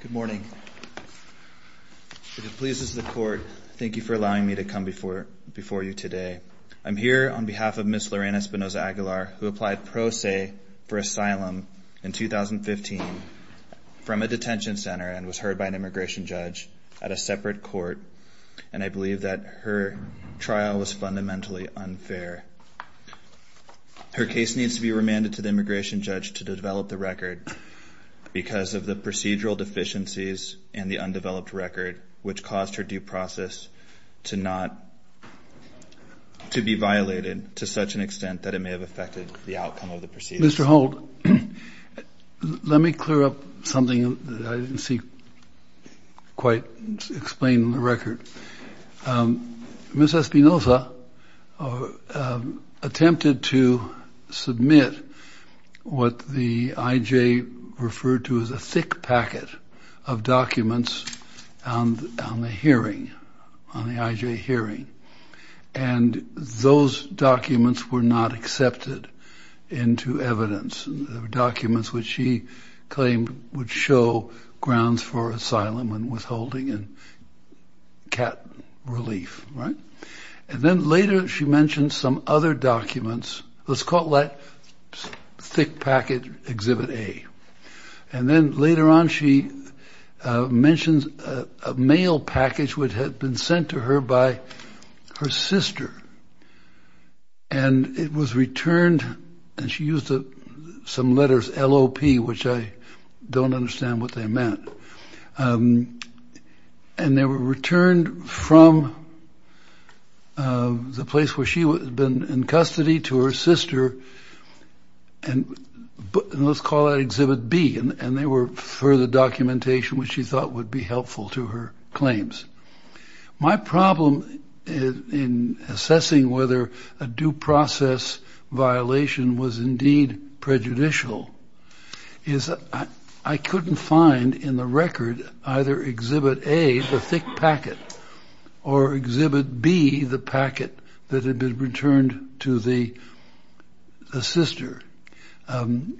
Good morning. If it pleases the court, thank you for allowing me to come before you today. I'm here on behalf of Ms. Lorena Espinoza Aguilar, who applied pro se for asylum in 2015 from a detention center and was heard by an immigration judge at a separate court, and I believe that her trial was fundamentally unfair. Her case needs to be remanded to the immigration judge to develop the record because of the procedural deficiencies and the undeveloped record, which caused her due process to not, to be violated to such an extent that it may have affected the outcome of the proceedings. Mr. Holt, let me clear up something that I didn't see quite explained in the record. Ms. Espinoza attempted to submit what the IJ referred to as a thick packet of documents on the hearing, on the IJ hearing, and those documents were not accepted into evidence. They were documents which she claimed would show grounds for asylum and withholding and cat relief, right? And then later she mentioned some other documents, let's call that thick package exhibit A. And then later on she mentions a mail package which had been sent to her by her sister, and it was returned, and she used some letters, LOP, which I don't understand what they meant. And they were returned from the place where she had been in custody to her sister, and let's call that exhibit B, and they were further documentation which she thought would be helpful to her claims. My problem in assessing whether a due process violation was indeed prejudicial is I couldn't find in the record either exhibit A, the thick packet, or exhibit B, the packet that had been returned to the sister. Am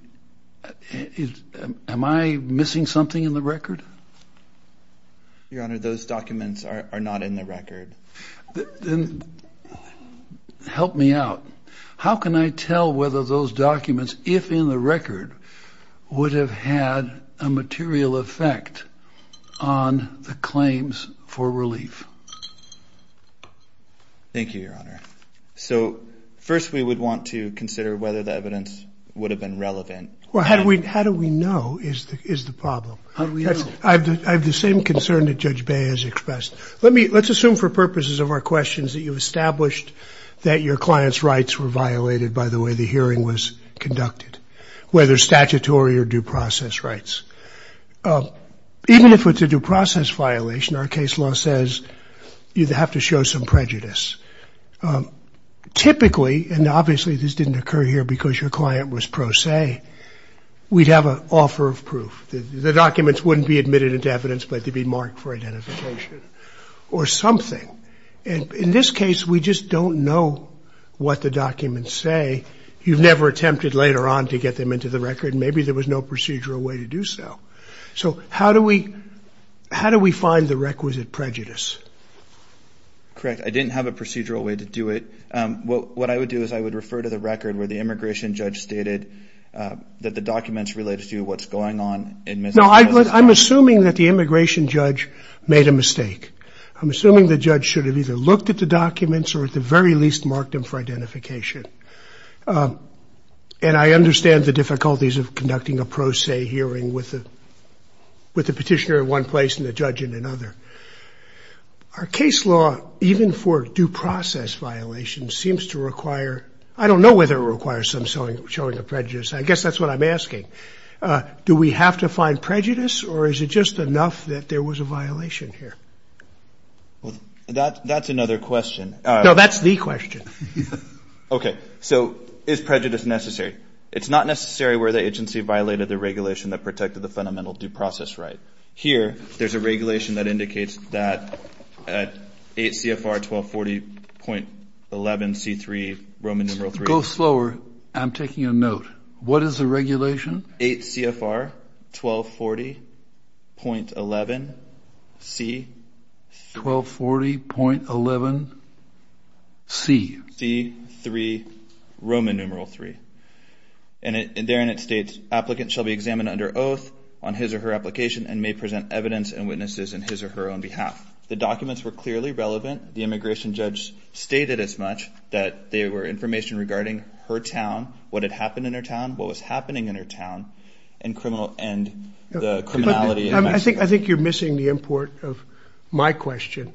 I missing something in the record? Your Honor, those documents are not in the record. Then help me out. How can I tell whether those documents, if in the record, would have had a material effect on the claims for relief? Thank you, Your Honor. So first we would want to consider whether the evidence would have been relevant. Well, how do we know is the problem? I have the same concern that Judge Bay has expressed. Let's assume for purposes of our questions that you've established that your client's rights were violated by the way the hearing was conducted, whether statutory or due process rights. Even if it's a due process violation, our case law says you'd have to show some prejudice. Typically, and obviously this didn't occur here because your client was pro se, we'd have an offer of proof. The documents wouldn't be admitted into evidence, but they'd be marked for identification or something. In this case, we just don't know what the documents say. You've never attempted later on to get them into the record. Maybe there was no procedural way to do so. So how do we find the requisite prejudice? Correct. I didn't have a procedural way to do it. What I would do is I would refer to the record where the immigration judge stated that the documents related to what's going on. No, I'm assuming that the immigration judge made a mistake. I'm assuming the judge should have either looked at the documents or at the very least marked them for identification. And I understand the difficulties of conducting a pro se hearing with the petitioner in one place and the judge in another. Our case law, even for due process violations, seems to require, I don't know whether it requires some showing of prejudice. I guess that's what I'm asking. Do we have to find prejudice or is it just enough that there was a violation here? That's another question. No, that's the question. Okay, so is prejudice necessary? It's not necessary where the agency violated the regulation that protected the fundamental due process right. Here, there's a regulation that indicates that at 8 CFR 1240.11 C3 Roman numeral 3. Go slower. I'm taking a note. What is the regulation? 8 CFR 1240.11 C. 1240.11 C. C3 Roman numeral 3. And therein it states, applicant shall be examined under oath on his or her application and may present evidence and witnesses in his or her own behalf. The documents were clearly relevant. The immigration judge stated as much that they were information regarding her town, what had happened in her town, what was happening in her town, and the criminality. I think you're missing the import of my question.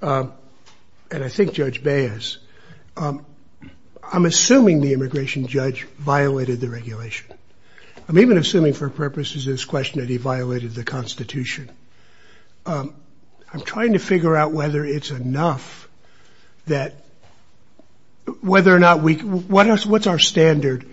And I think Judge Baez. I'm assuming the immigration judge violated the regulation. I'm even assuming for purposes of this question that he violated the Constitution. I'm trying to figure out whether it's enough that whether or not we, what's our standard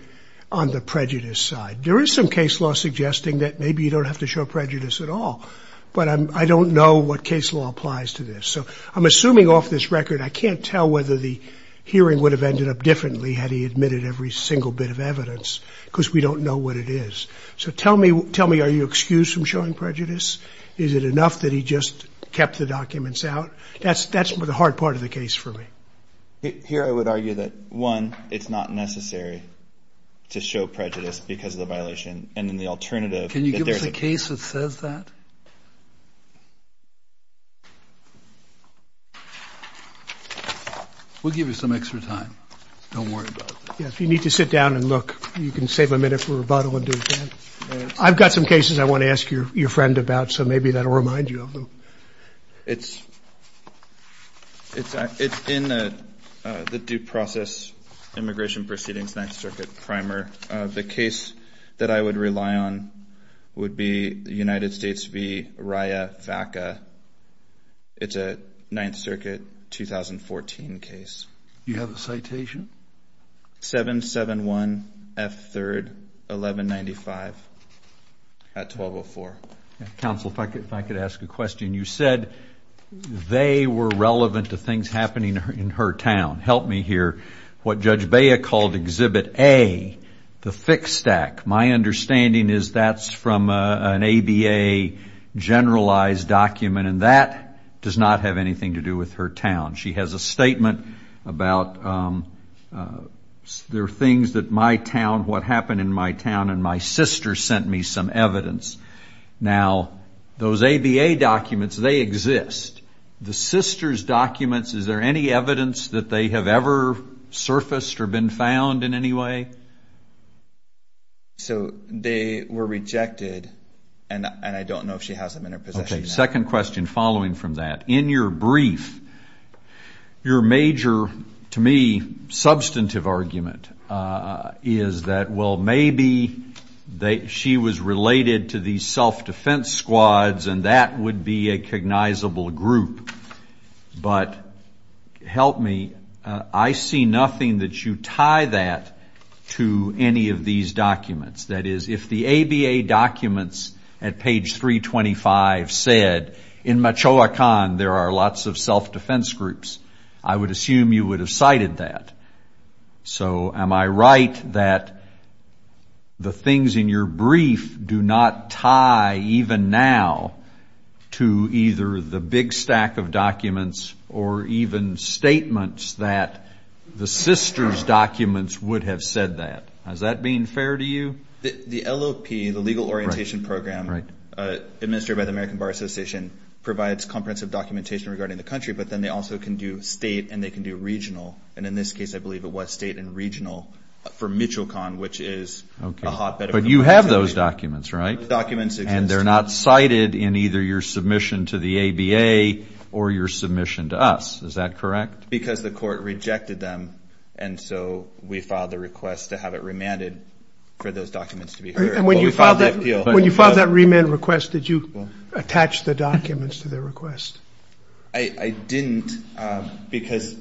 on the prejudice side? There is some case law suggesting that maybe you don't have to show prejudice at all. But I don't know what case law applies to this. So I'm assuming off this record I can't tell whether the hearing would have ended up differently had he admitted every single bit of evidence because we don't know what it is. So tell me, are you excused from showing prejudice? Is it enough that he just kept the documents out? That's the hard part of the case for me. Here I would argue that, one, it's not necessary to show prejudice because of the violation. And then the alternative. Can you give us a case that says that? We'll give you some extra time. Don't worry about it. Yeah, if you need to sit down and look, you can save a minute for rebuttal and do that. I've got some cases I want to ask your friend about, so maybe that will remind you of them. It's in the due process immigration proceedings, Ninth Circuit primer. The case that I would rely on would be the United States v. Rya Vaca. It's a Ninth Circuit 2014 case. Do you have a citation? 771F3, 1195 at 1204. Counsel, if I could ask a question. You said they were relevant to things happening in her town. Help me here. What Judge Bea called Exhibit A, the fixed stack, my understanding is that's from an ABA generalized document, and that does not have anything to do with her town. She has a statement about there are things that my town, what happened in my town, and my sister sent me some evidence. Now, those ABA documents, they exist. The sister's documents, is there any evidence that they have ever surfaced or been found in any way? So they were rejected, and I don't know if she has them in her possession now. Okay, second question following from that. In your brief, your major, to me, substantive argument is that, well, maybe she was related to these self-defense squads, and that would be a cognizable group. But help me, I see nothing that you tie that to any of these documents. That is, if the ABA documents at page 325 said, in Machoacan, there are lots of self-defense groups, I would assume you would have cited that. So am I right that the things in your brief do not tie even now to either the big stack of documents or even statements that the sister's documents would have said that? Has that been fair to you? The LOP, the Legal Orientation Program, administered by the American Bar Association, provides comprehensive documentation regarding the country, but then they also can do state and they can do regional. And in this case, I believe it was state and regional for Michoacan, which is a hotbed of complaints. But you have those documents, right? The documents exist. And they're not cited in either your submission to the ABA or your submission to us. Is that correct? Because the court rejected them. And so we filed the request to have it remanded for those documents to be heard. When you filed that remand request, did you attach the documents to their request? I didn't because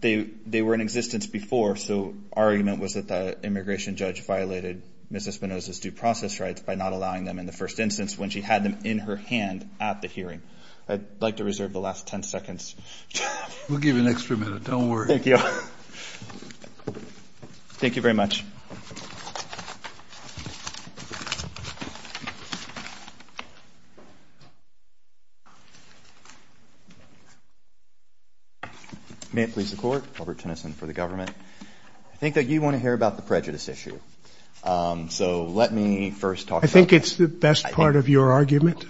they were in existence before. So our argument was that the immigration judge violated Ms. Espinosa's due process rights by not allowing them in the first instance when she had them in her hand at the hearing. I'd like to reserve the last 10 seconds. We'll give you an extra minute. Don't worry. Thank you. Thank you very much. May it please the Court. Robert Tennyson for the government. I think that you want to hear about the prejudice issue. So let me first talk about that. I think it's the best part of your argument.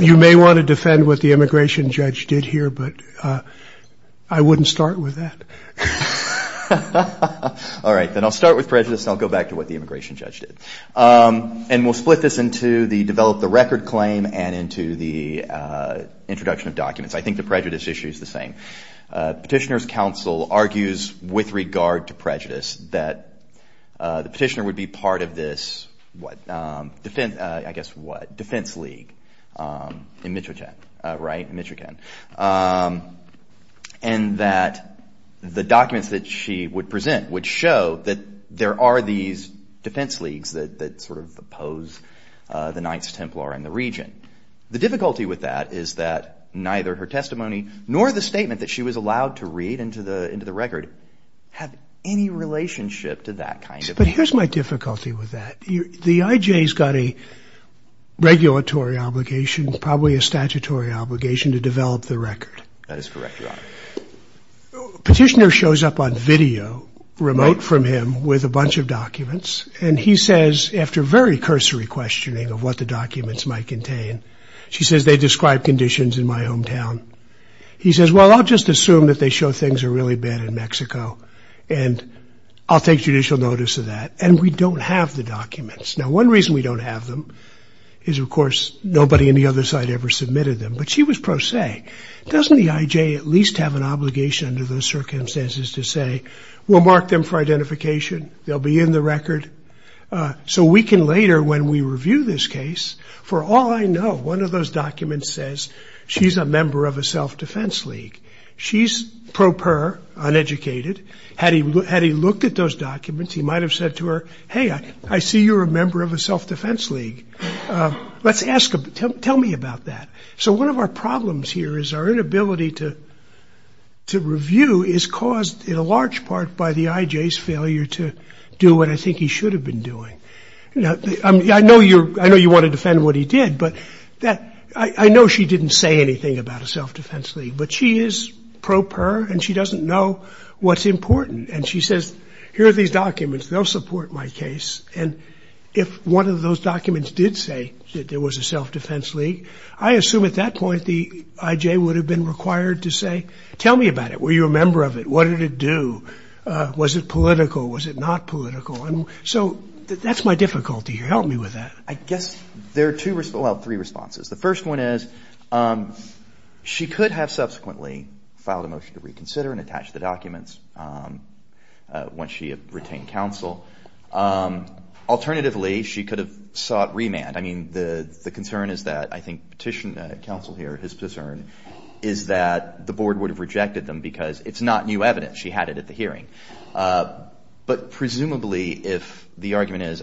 You may want to defend what the immigration judge did here, but I wouldn't start with that. All right. Then I'll start with prejudice and I'll go back to what the immigration judge did. And we'll split this into the develop the record claim and into the introduction of documents. I think the prejudice issue is the same. Petitioner's counsel argues with regard to prejudice that the petitioner would be part of this, I guess what, defense league in Michigan, right? In Michigan. And that the documents that she would present would show that there are these defense leagues that sort of oppose the Knights Templar in the region. The difficulty with that is that neither her testimony nor the statement that she was allowed to read But here's my difficulty with that. The IJ's got a regulatory obligation, probably a statutory obligation to develop the record. That is correct, Your Honor. Petitioner shows up on video remote from him with a bunch of documents. And he says, after very cursory questioning of what the documents might contain, she says they describe conditions in my hometown. He says, well, I'll just assume that they show things are really bad in Mexico and I'll take judicial notice of that. And we don't have the documents. Now, one reason we don't have them is, of course, nobody on the other side ever submitted them. But she was pro se. Doesn't the IJ at least have an obligation under those circumstances to say, we'll mark them for identification. They'll be in the record. So we can later, when we review this case, for all I know, one of those documents says she's a member of a self-defense league. She's pro per, uneducated. Had he looked at those documents, he might have said to her, hey, I see you're a member of a self-defense league. Let's ask him, tell me about that. So one of our problems here is our inability to review is caused in a large part by the IJ's failure to do what I think he should have been doing. I know you want to defend what he did, but I know she didn't say anything about a self-defense league. But she is pro per, and she doesn't know what's important. And she says, here are these documents. They'll support my case. And if one of those documents did say that there was a self-defense league, I assume at that point the IJ would have been required to say, tell me about it. Were you a member of it? What did it do? Was it political? Was it not political? And so that's my difficulty here. Help me with that. I guess there are two, well, three responses. The first one is she could have subsequently filed a motion to reconsider and attach the documents once she had retained counsel. Alternatively, she could have sought remand. I mean, the concern is that I think petition counsel here, his concern, is that the board would have rejected them because it's not new evidence. She had it at the hearing. But presumably if the argument is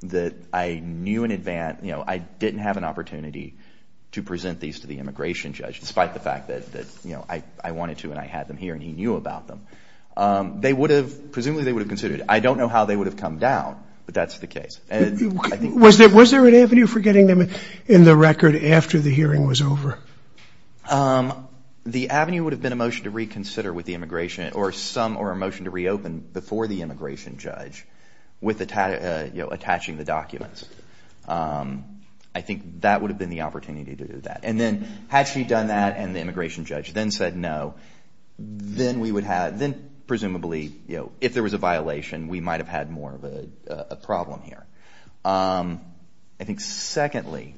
that I knew in advance, I didn't have an opportunity to present these to the immigration judge, despite the fact that I wanted to and I had them here and he knew about them, presumably they would have considered it. I don't know how they would have come down, but that's the case. Was there an avenue for getting them in the record after the hearing was over? The avenue would have been a motion to reconsider with the immigration or a motion to reopen before the immigration judge with attaching the documents. I think that would have been the opportunity to do that. And then had she done that and the immigration judge then said no, then presumably if there was a violation, we might have had more of a problem here. I think secondly,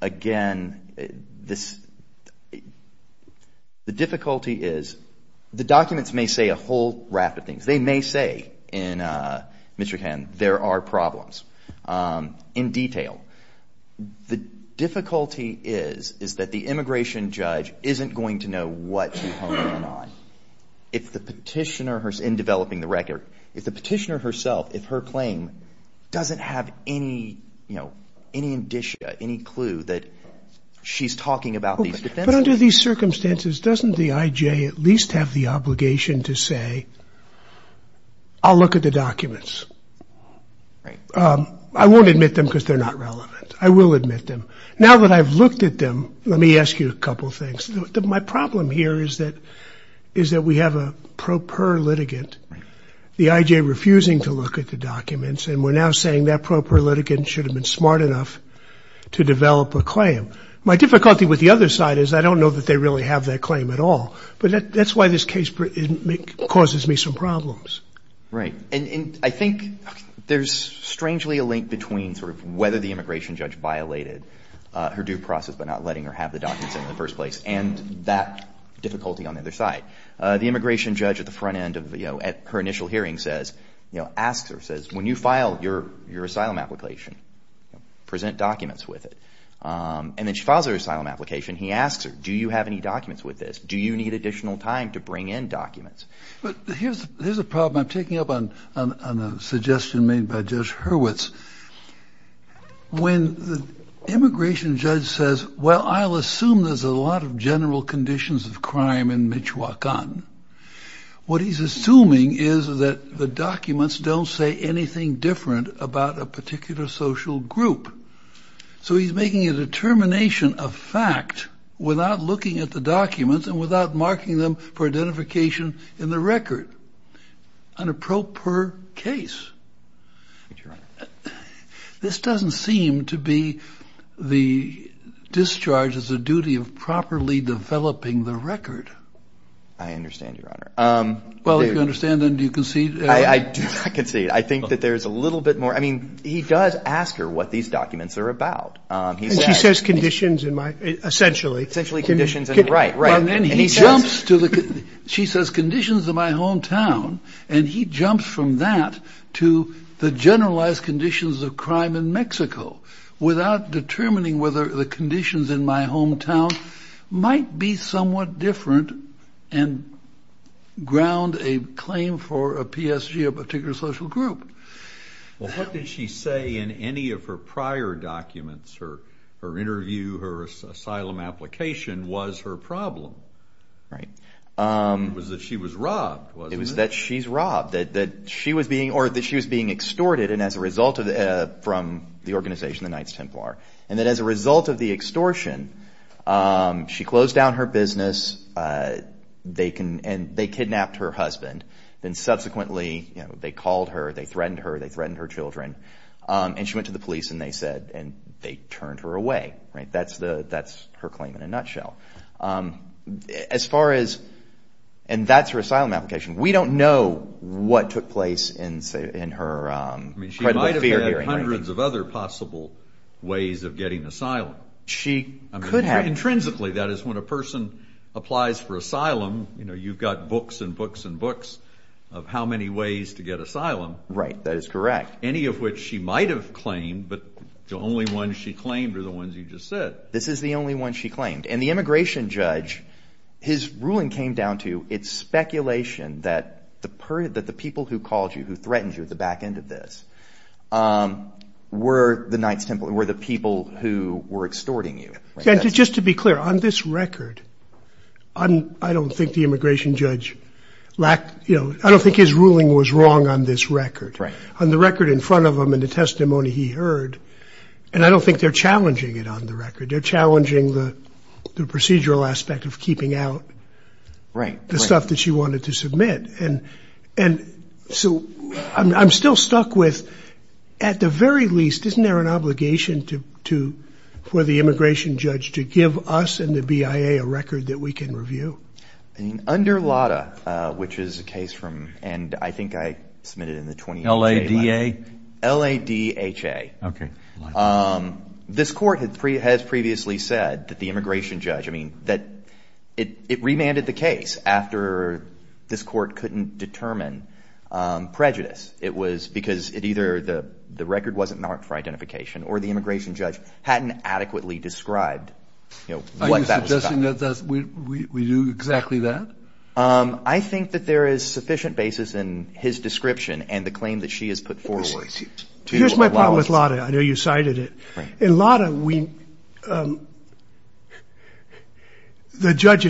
again, the difficulty is the documents may say a whole raft of things. They may say in Michigan there are problems in detail. The difficulty is that the immigration judge isn't going to know what she's honing in on. If the petitioner herself in developing the record, if the petitioner herself, if her claim doesn't have any indicia, any clue that she's talking about these defenses. But under these circumstances, doesn't the IJ at least have the obligation to say, I'll look at the documents. I won't admit them because they're not relevant. I will admit them. Now that I've looked at them, let me ask you a couple things. My problem here is that we have a pro per litigant. The IJ refusing to look at the documents and we're now saying that pro per litigant should have been smart enough to develop a claim. My difficulty with the other side is I don't know that they really have that claim at all. But that's why this case causes me some problems. Right. And I think there's strangely a link between sort of whether the immigration judge violated her due process by not letting her have the documents in the first place and that difficulty on the other side. The immigration judge at the front end of her initial hearing says, asks her, says, when you file your asylum application, present documents with it. And then she files her asylum application. He asks her, do you have any documents with this? Do you need additional time to bring in documents? But here's a problem I'm taking up on a suggestion made by Judge Hurwitz. When the immigration judge says, well, I'll assume there's a lot of general conditions of crime in Michoacan, what he's assuming is that the documents don't say anything different about a particular social group. So he's making a determination of fact without looking at the documents and without marking them for identification in the record. An a pro per case. This doesn't seem to be the discharge as a duty of properly developing the record. I understand, Your Honor. Well, if you understand, then do you concede? I concede. I think that there's a little bit more. I mean, he does ask her what these documents are about. And she says conditions in my, essentially. Essentially conditions in, right, right. She says conditions in my hometown. And he jumps from that to the generalized conditions of crime in Mexico without determining whether the conditions in my hometown might be somewhat different and ground a claim for a PSG, a particular social group. Well, what did she say in any of her prior documents? Her interview, her asylum application was her problem. Right. It was that she was robbed, wasn't it? It was that she's robbed. That she was being extorted from the organization, the Knights Templar. And that as a result of the extortion, she closed down her business and they kidnapped her husband. And subsequently, you know, they called her, they threatened her, they threatened her children. And she went to the police and they said, and they turned her away. Right. That's her claim in a nutshell. As far as, and that's her asylum application. We don't know what took place in her credible fear hearing. I mean, she might have had hundreds of other possible ways of getting asylum. She could have. Intrinsically, that is when a person applies for asylum, you know, you've got books and books and books of how many ways to get asylum. Right. I don't think that is correct. Any of which she might have claimed, but the only ones she claimed are the ones you just said. This is the only one she claimed. And the immigration judge, his ruling came down to, it's speculation that the people who called you, who threatened you at the back end of this, were the Knights Templar, were the people who were extorting you. Just to be clear, on this record, I don't think the immigration judge lacked, you know, I don't think his ruling was wrong on this record. On the record in front of him and the testimony he heard, and I don't think they're challenging it on the record. They're challenging the procedural aspect of keeping out the stuff that she wanted to submit. And so I'm still stuck with, at the very least, isn't there an obligation for the immigration judge to give us and the BIA a record that we can review? Under LADA, which is a case from, and I think I submitted it in the 2018. LADA? L-A-D-H-A. Okay. This court has previously said that the immigration judge, I mean, that it remanded the case after this court couldn't determine prejudice. It was because either the record wasn't marked for identification or the immigration judge hadn't adequately described what that was about. So you're saying that we do exactly that? I think that there is sufficient basis in his description and the claim that she has put forward. Here's my problem with LADA. I know you cited it. In LADA, the judge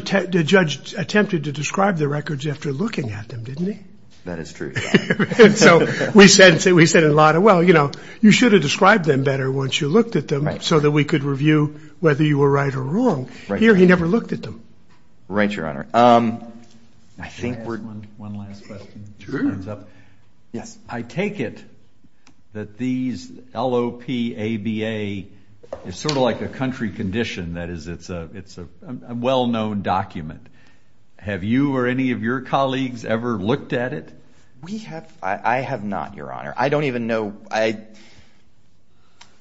attempted to describe the records after looking at them, didn't he? That is true. And so we said in LADA, well, you know, you should have described them better once you looked at them so that we could review whether you were right or wrong. Here he never looked at them. Right, Your Honor. I think we're going to have one last question. Sure. I take it that these L-O-P-A-B-A is sort of like a country condition. That is, it's a well-known document. Have you or any of your colleagues ever looked at it? We have. I have not, Your Honor. I don't even know.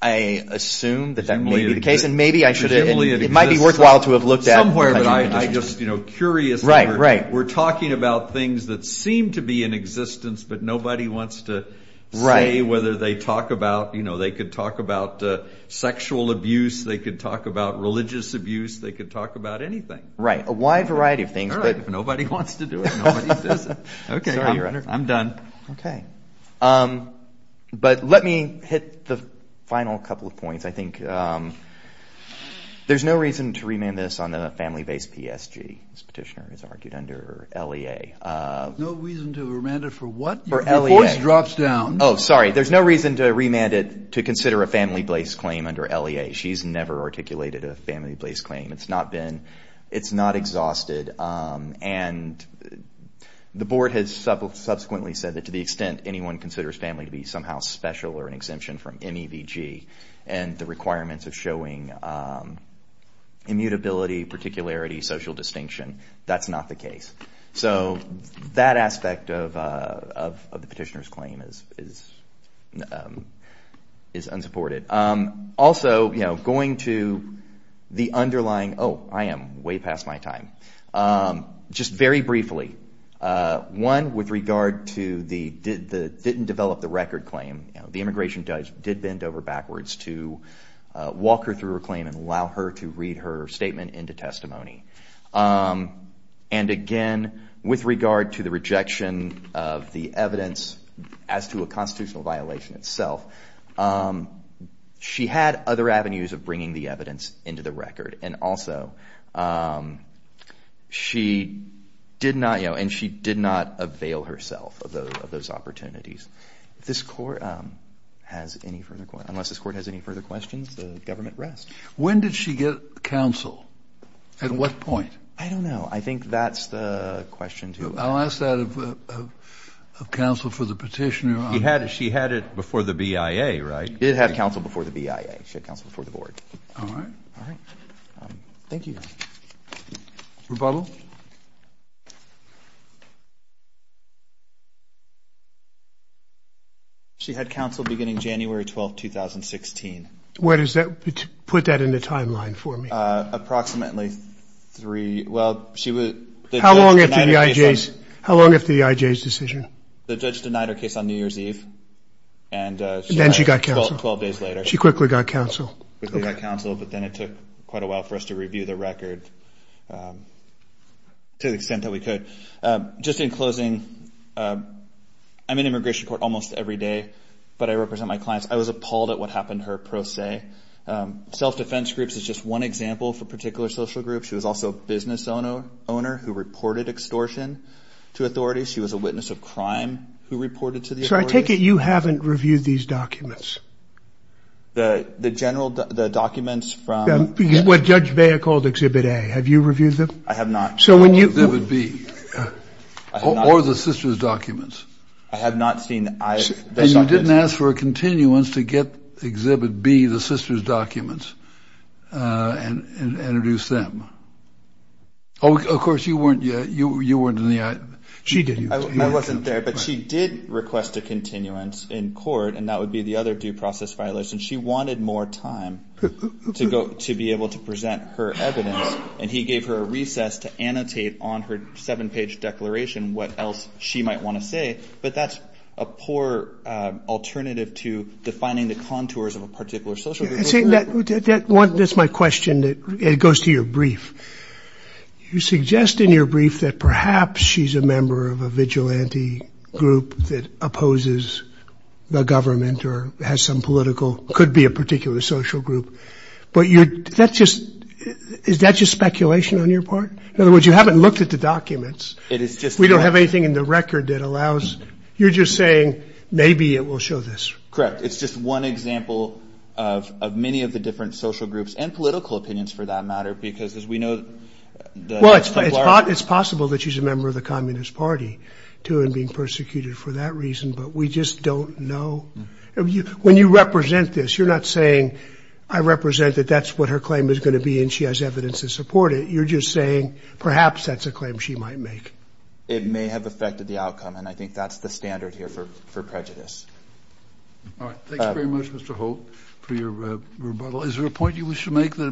I assume that that may be the case, and maybe I should have. It might be worthwhile to have looked at. Somewhere, but I'm just curious. Right, right. We're talking about things that seem to be in existence, but nobody wants to say whether they talk about, you know, they could talk about sexual abuse, they could talk about religious abuse, they could talk about anything. Right, a wide variety of things. All right, if nobody wants to do it, nobody does it. Sorry, Your Honor. I'm done. Okay. But let me hit the final couple of points. I think there's no reason to remand this on a family-based PSG, as Petitioner has argued, under LEA. No reason to remand it for what? For LEA. Your voice drops down. Oh, sorry. There's no reason to remand it to consider a family-based claim under LEA. She's never articulated a family-based claim. It's not exhausted. And the Board has subsequently said that to the extent anyone considers family to be somehow special or an exemption from MEVG and the requirements of showing immutability, particularity, social distinction, that's not the case. So that aspect of the Petitioner's claim is unsupported. Also, going to the underlying – oh, I am way past my time. Just very briefly, one, with regard to the didn't-develop-the-record claim, the immigration judge did bend over backwards to walk her through her claim and allow her to read her statement into testimony. And again, with regard to the rejection of the evidence as to a constitutional violation itself, she had other avenues of bringing the evidence into the record. And also, she did not – you know, and she did not avail herself of those opportunities. If this Court has any further – unless this Court has any further questions, the government rests. When did she get counsel? At what point? I don't know. I think that's the question, too. I'll ask that of counsel for the Petitioner on that. She had it before the BIA, right? She did have counsel before the BIA. She had counsel before the Board. All right. All right. Thank you. Rebuttal? She had counsel beginning January 12, 2016. Where does that – put that in the timeline for me. Approximately three – well, she was – How long after the IJ's – how long after the IJ's decision? The judge denied her case on New Year's Eve. And then she got counsel. Twelve days later. She quickly got counsel. She quickly got counsel, but then it took quite a while for us to review the record to the extent that we could. Just in closing, I'm in immigration court almost every day, but I represent my clients. I was appalled at what happened to her, per se. Self-defense groups is just one example for particular social groups. She was also a business owner who reported extortion to authorities. She was a witness of crime who reported to the authorities. So I take it you haven't reviewed these documents? The general – the documents from – What Judge Baer called Exhibit A. Have you reviewed them? I have not. So when you – Or the sister's documents. I have not seen the documents. And you didn't ask for a continuance to get Exhibit B, the sister's documents, and introduce them? Of course, you weren't in the – she did. I wasn't there, but she did request a continuance in court, and that would be the other due process violation. She wanted more time to be able to present her evidence, and he gave her a recess to annotate on her seven-page declaration what else she might want to say. But that's a poor alternative to defining the contours of a particular social group. That's my question. It goes to your brief. You suggest in your brief that perhaps she's a member of a vigilante group that opposes the government or has some political – could be a particular social group. But that's just – is that just speculation on your part? In other words, you haven't looked at the documents. It is just – We don't have anything in the record that allows – you're just saying maybe it will show this. Correct. It's just one example of many of the different social groups and political opinions for that matter because, as we know, the – Well, it's possible that she's a member of the Communist Party, too, and being persecuted for that reason, but we just don't know. When you represent this, you're not saying I represent that that's what her claim is going to be and she has evidence to support it. You're just saying perhaps that's a claim she might make. It may have affected the outcome, and I think that's the standard here for prejudice. All right. Thank you very much, Mr. Holt, for your rebuttal. Is there a point you wish to make? We'll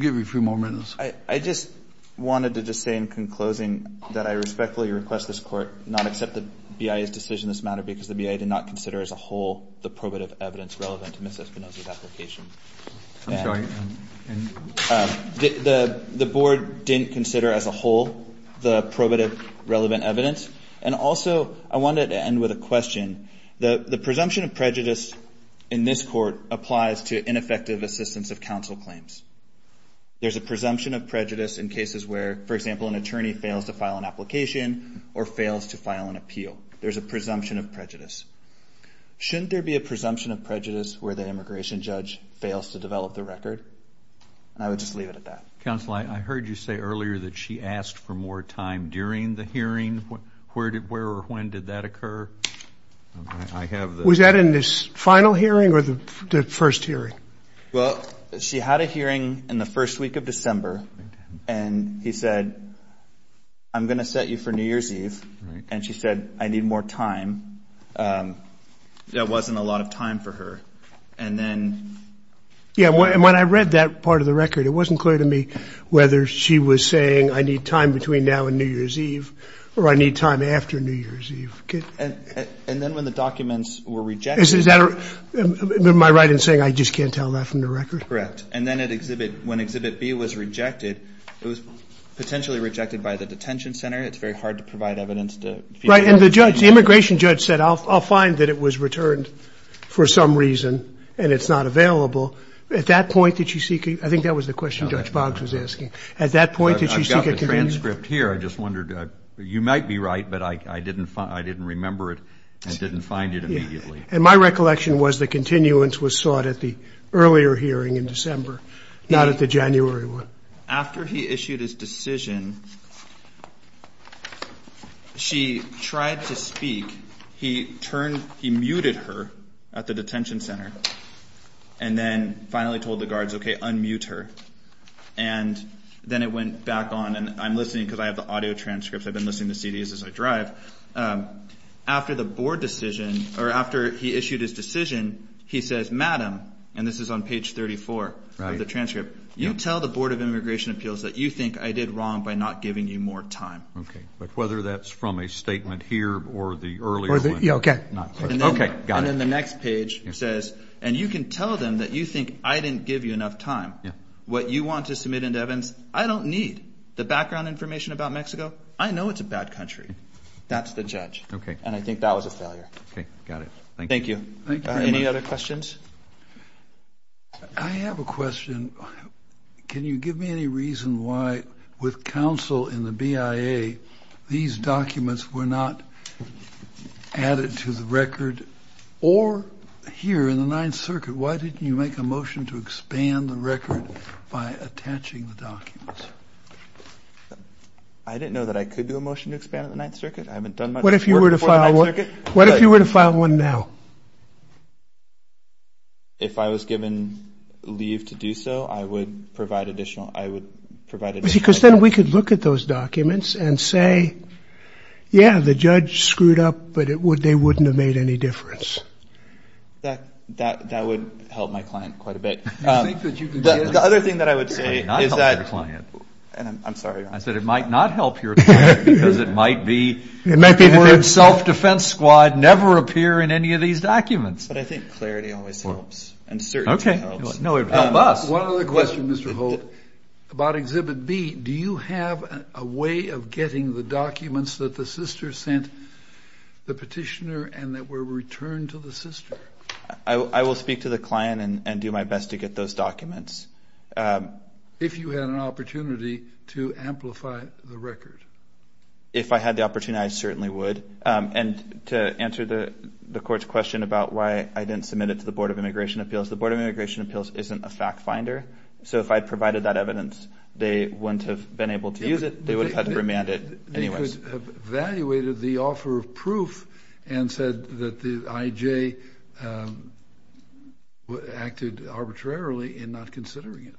give you a few more minutes. I just wanted to just say in conclosing that I respectfully request this Court not accept the BIA's decision in this matter because the BIA did not consider as a whole the probative evidence relevant to Ms. Espinosa's application. The Board didn't consider as a whole the probative relevant evidence, and also I wanted to end with a question. The presumption of prejudice in this Court applies to ineffective assistance of counsel claims. There's a presumption of prejudice in cases where, for example, an attorney fails to file an application or fails to file an appeal. There's a presumption of prejudice. Shouldn't there be a presumption of prejudice where the immigration judge fails to develop the record? And I would just leave it at that. Counsel, I heard you say earlier that she asked for more time during the hearing. Where or when did that occur? Was that in the final hearing or the first hearing? Well, she had a hearing in the first week of December, and he said, I'm going to set you for New Year's Eve, and she said, I need more time. There wasn't a lot of time for her, and then. Yeah, and when I read that part of the record, it wasn't clear to me whether she was saying I need time between now and New Year's Eve or I need time after New Year's Eve. And then when the documents were rejected. Am I right in saying I just can't tell that from the record? Correct, and then when Exhibit B was rejected, it was potentially rejected by the detention center. It's very hard to provide evidence. Right, and the immigration judge said, I'll find that it was returned for some reason, and it's not available. At that point, did she seek a... I think that was the question Judge Boggs was asking. At that point, did she seek a... I've got the transcript here. I just wondered... You might be right, but I didn't remember it and didn't find it immediately. And my recollection was the continuance was sought at the earlier hearing in December, not at the January one. After he issued his decision, she tried to speak. He muted her at the detention center and then finally told the guards, okay, unmute her. And then it went back on, and I'm listening because I have the audio transcripts. I've been listening to CDs as I drive. After the board decision, or after he issued his decision, he says, Madam, and this is on page 34 of the transcript, you tell the Board of Immigration Appeals that you think I did wrong by not giving you more time. Okay. But whether that's from a statement here or the earlier one... Yeah, okay. Okay, got it. And then the next page says, and you can tell them that you think I didn't give you enough time. Yeah. What you want to submit into evidence, I don't need. The background information about Mexico, I know it's a bad country. That's the judge. Okay. And I think that was a failure. Okay, got it. Thank you. Thank you. Any other questions? I have a question. Can you give me any reason why, with counsel in the BIA, these documents were not added to the record? Or here in the Ninth Circuit, why didn't you make a motion to expand the record by attaching the documents? I didn't know that I could do a motion to expand the Ninth Circuit. I haven't done much work before the Ninth Circuit. What if you were to file one now? If I was given leave to do so, I would provide additional... Because then we could look at those documents and say, yeah, the judge screwed up, but they wouldn't have made any difference. That would help my client quite a bit. The other thing that I would say is that... It might not help your client. I'm sorry. I said it might not help your client because it might be... It might be... But I think clarity always helps, and certainty helps. One other question, Mr. Holt, about Exhibit B. Do you have a way of getting the documents that the sister sent the petitioner and that were returned to the sister? I will speak to the client and do my best to get those documents. If you had an opportunity to amplify the record. If I had the opportunity, I certainly would. And to answer the court's question about why I didn't submit it to the Board of Immigration Appeals, the Board of Immigration Appeals isn't a fact finder. So if I had provided that evidence, they wouldn't have been able to use it. They would have had to remand it anyways. They could have evaluated the offer of proof and said that the IJ acted arbitrarily in not considering it.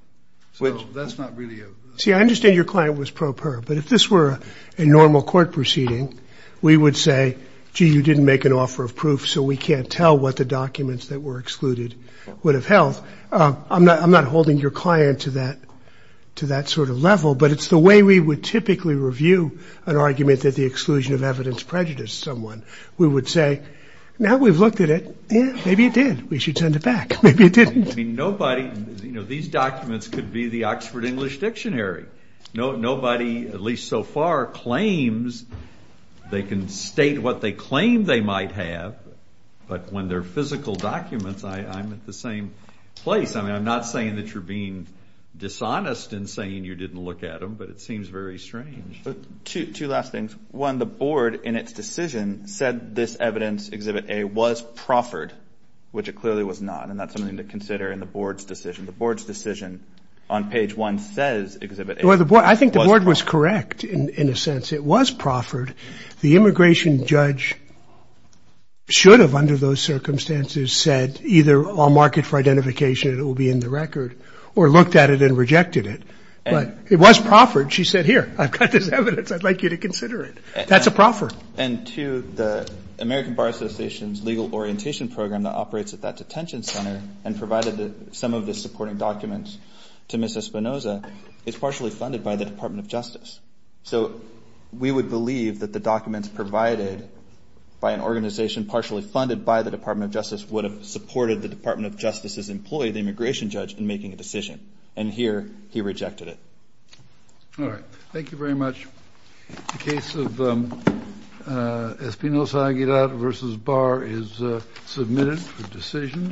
So that's not really a... See, I understand your client was pro per, but if this were a normal court proceeding, we would say, gee, you didn't make an offer of proof, so we can't tell what the documents that were excluded would have held. I'm not holding your client to that sort of level, but it's the way we would typically review an argument that the exclusion of evidence prejudiced someone. We would say, now we've looked at it, maybe it did. We should send it back. Maybe it didn't. I mean, nobody... You know, these documents could be the Oxford English Dictionary. Nobody, at least so far, claims they can state what they claim they might have, but when they're physical documents, I'm at the same place. I mean, I'm not saying that you're being dishonest in saying you didn't look at them, but it seems very strange. Two last things. One, the Board, in its decision, said this evidence, Exhibit A, was proffered, which it clearly was not, and that's something to consider in the Board's decision. The Board's decision on page 1 says Exhibit A was proffered. Well, I think the Board was correct in a sense. It was proffered. The immigration judge should have, under those circumstances, said either I'll mark it for identification and it will be in the record or looked at it and rejected it, but it was proffered. She said, here, I've got this evidence. I'd like you to consider it. That's a proffer. And two, the American Bar Association's legal orientation program that operates at that detention center and provided some of the supporting documents to Ms. Espinoza is partially funded by the Department of Justice. So we would believe that the documents provided by an organization partially funded by the Department of Justice would have supported the Department of Justice's employee, the immigration judge, in making a decision. And here, he rejected it. All right. Thank you very much. The case of Espinoza-Aguirret v. Bar is submitted for decision.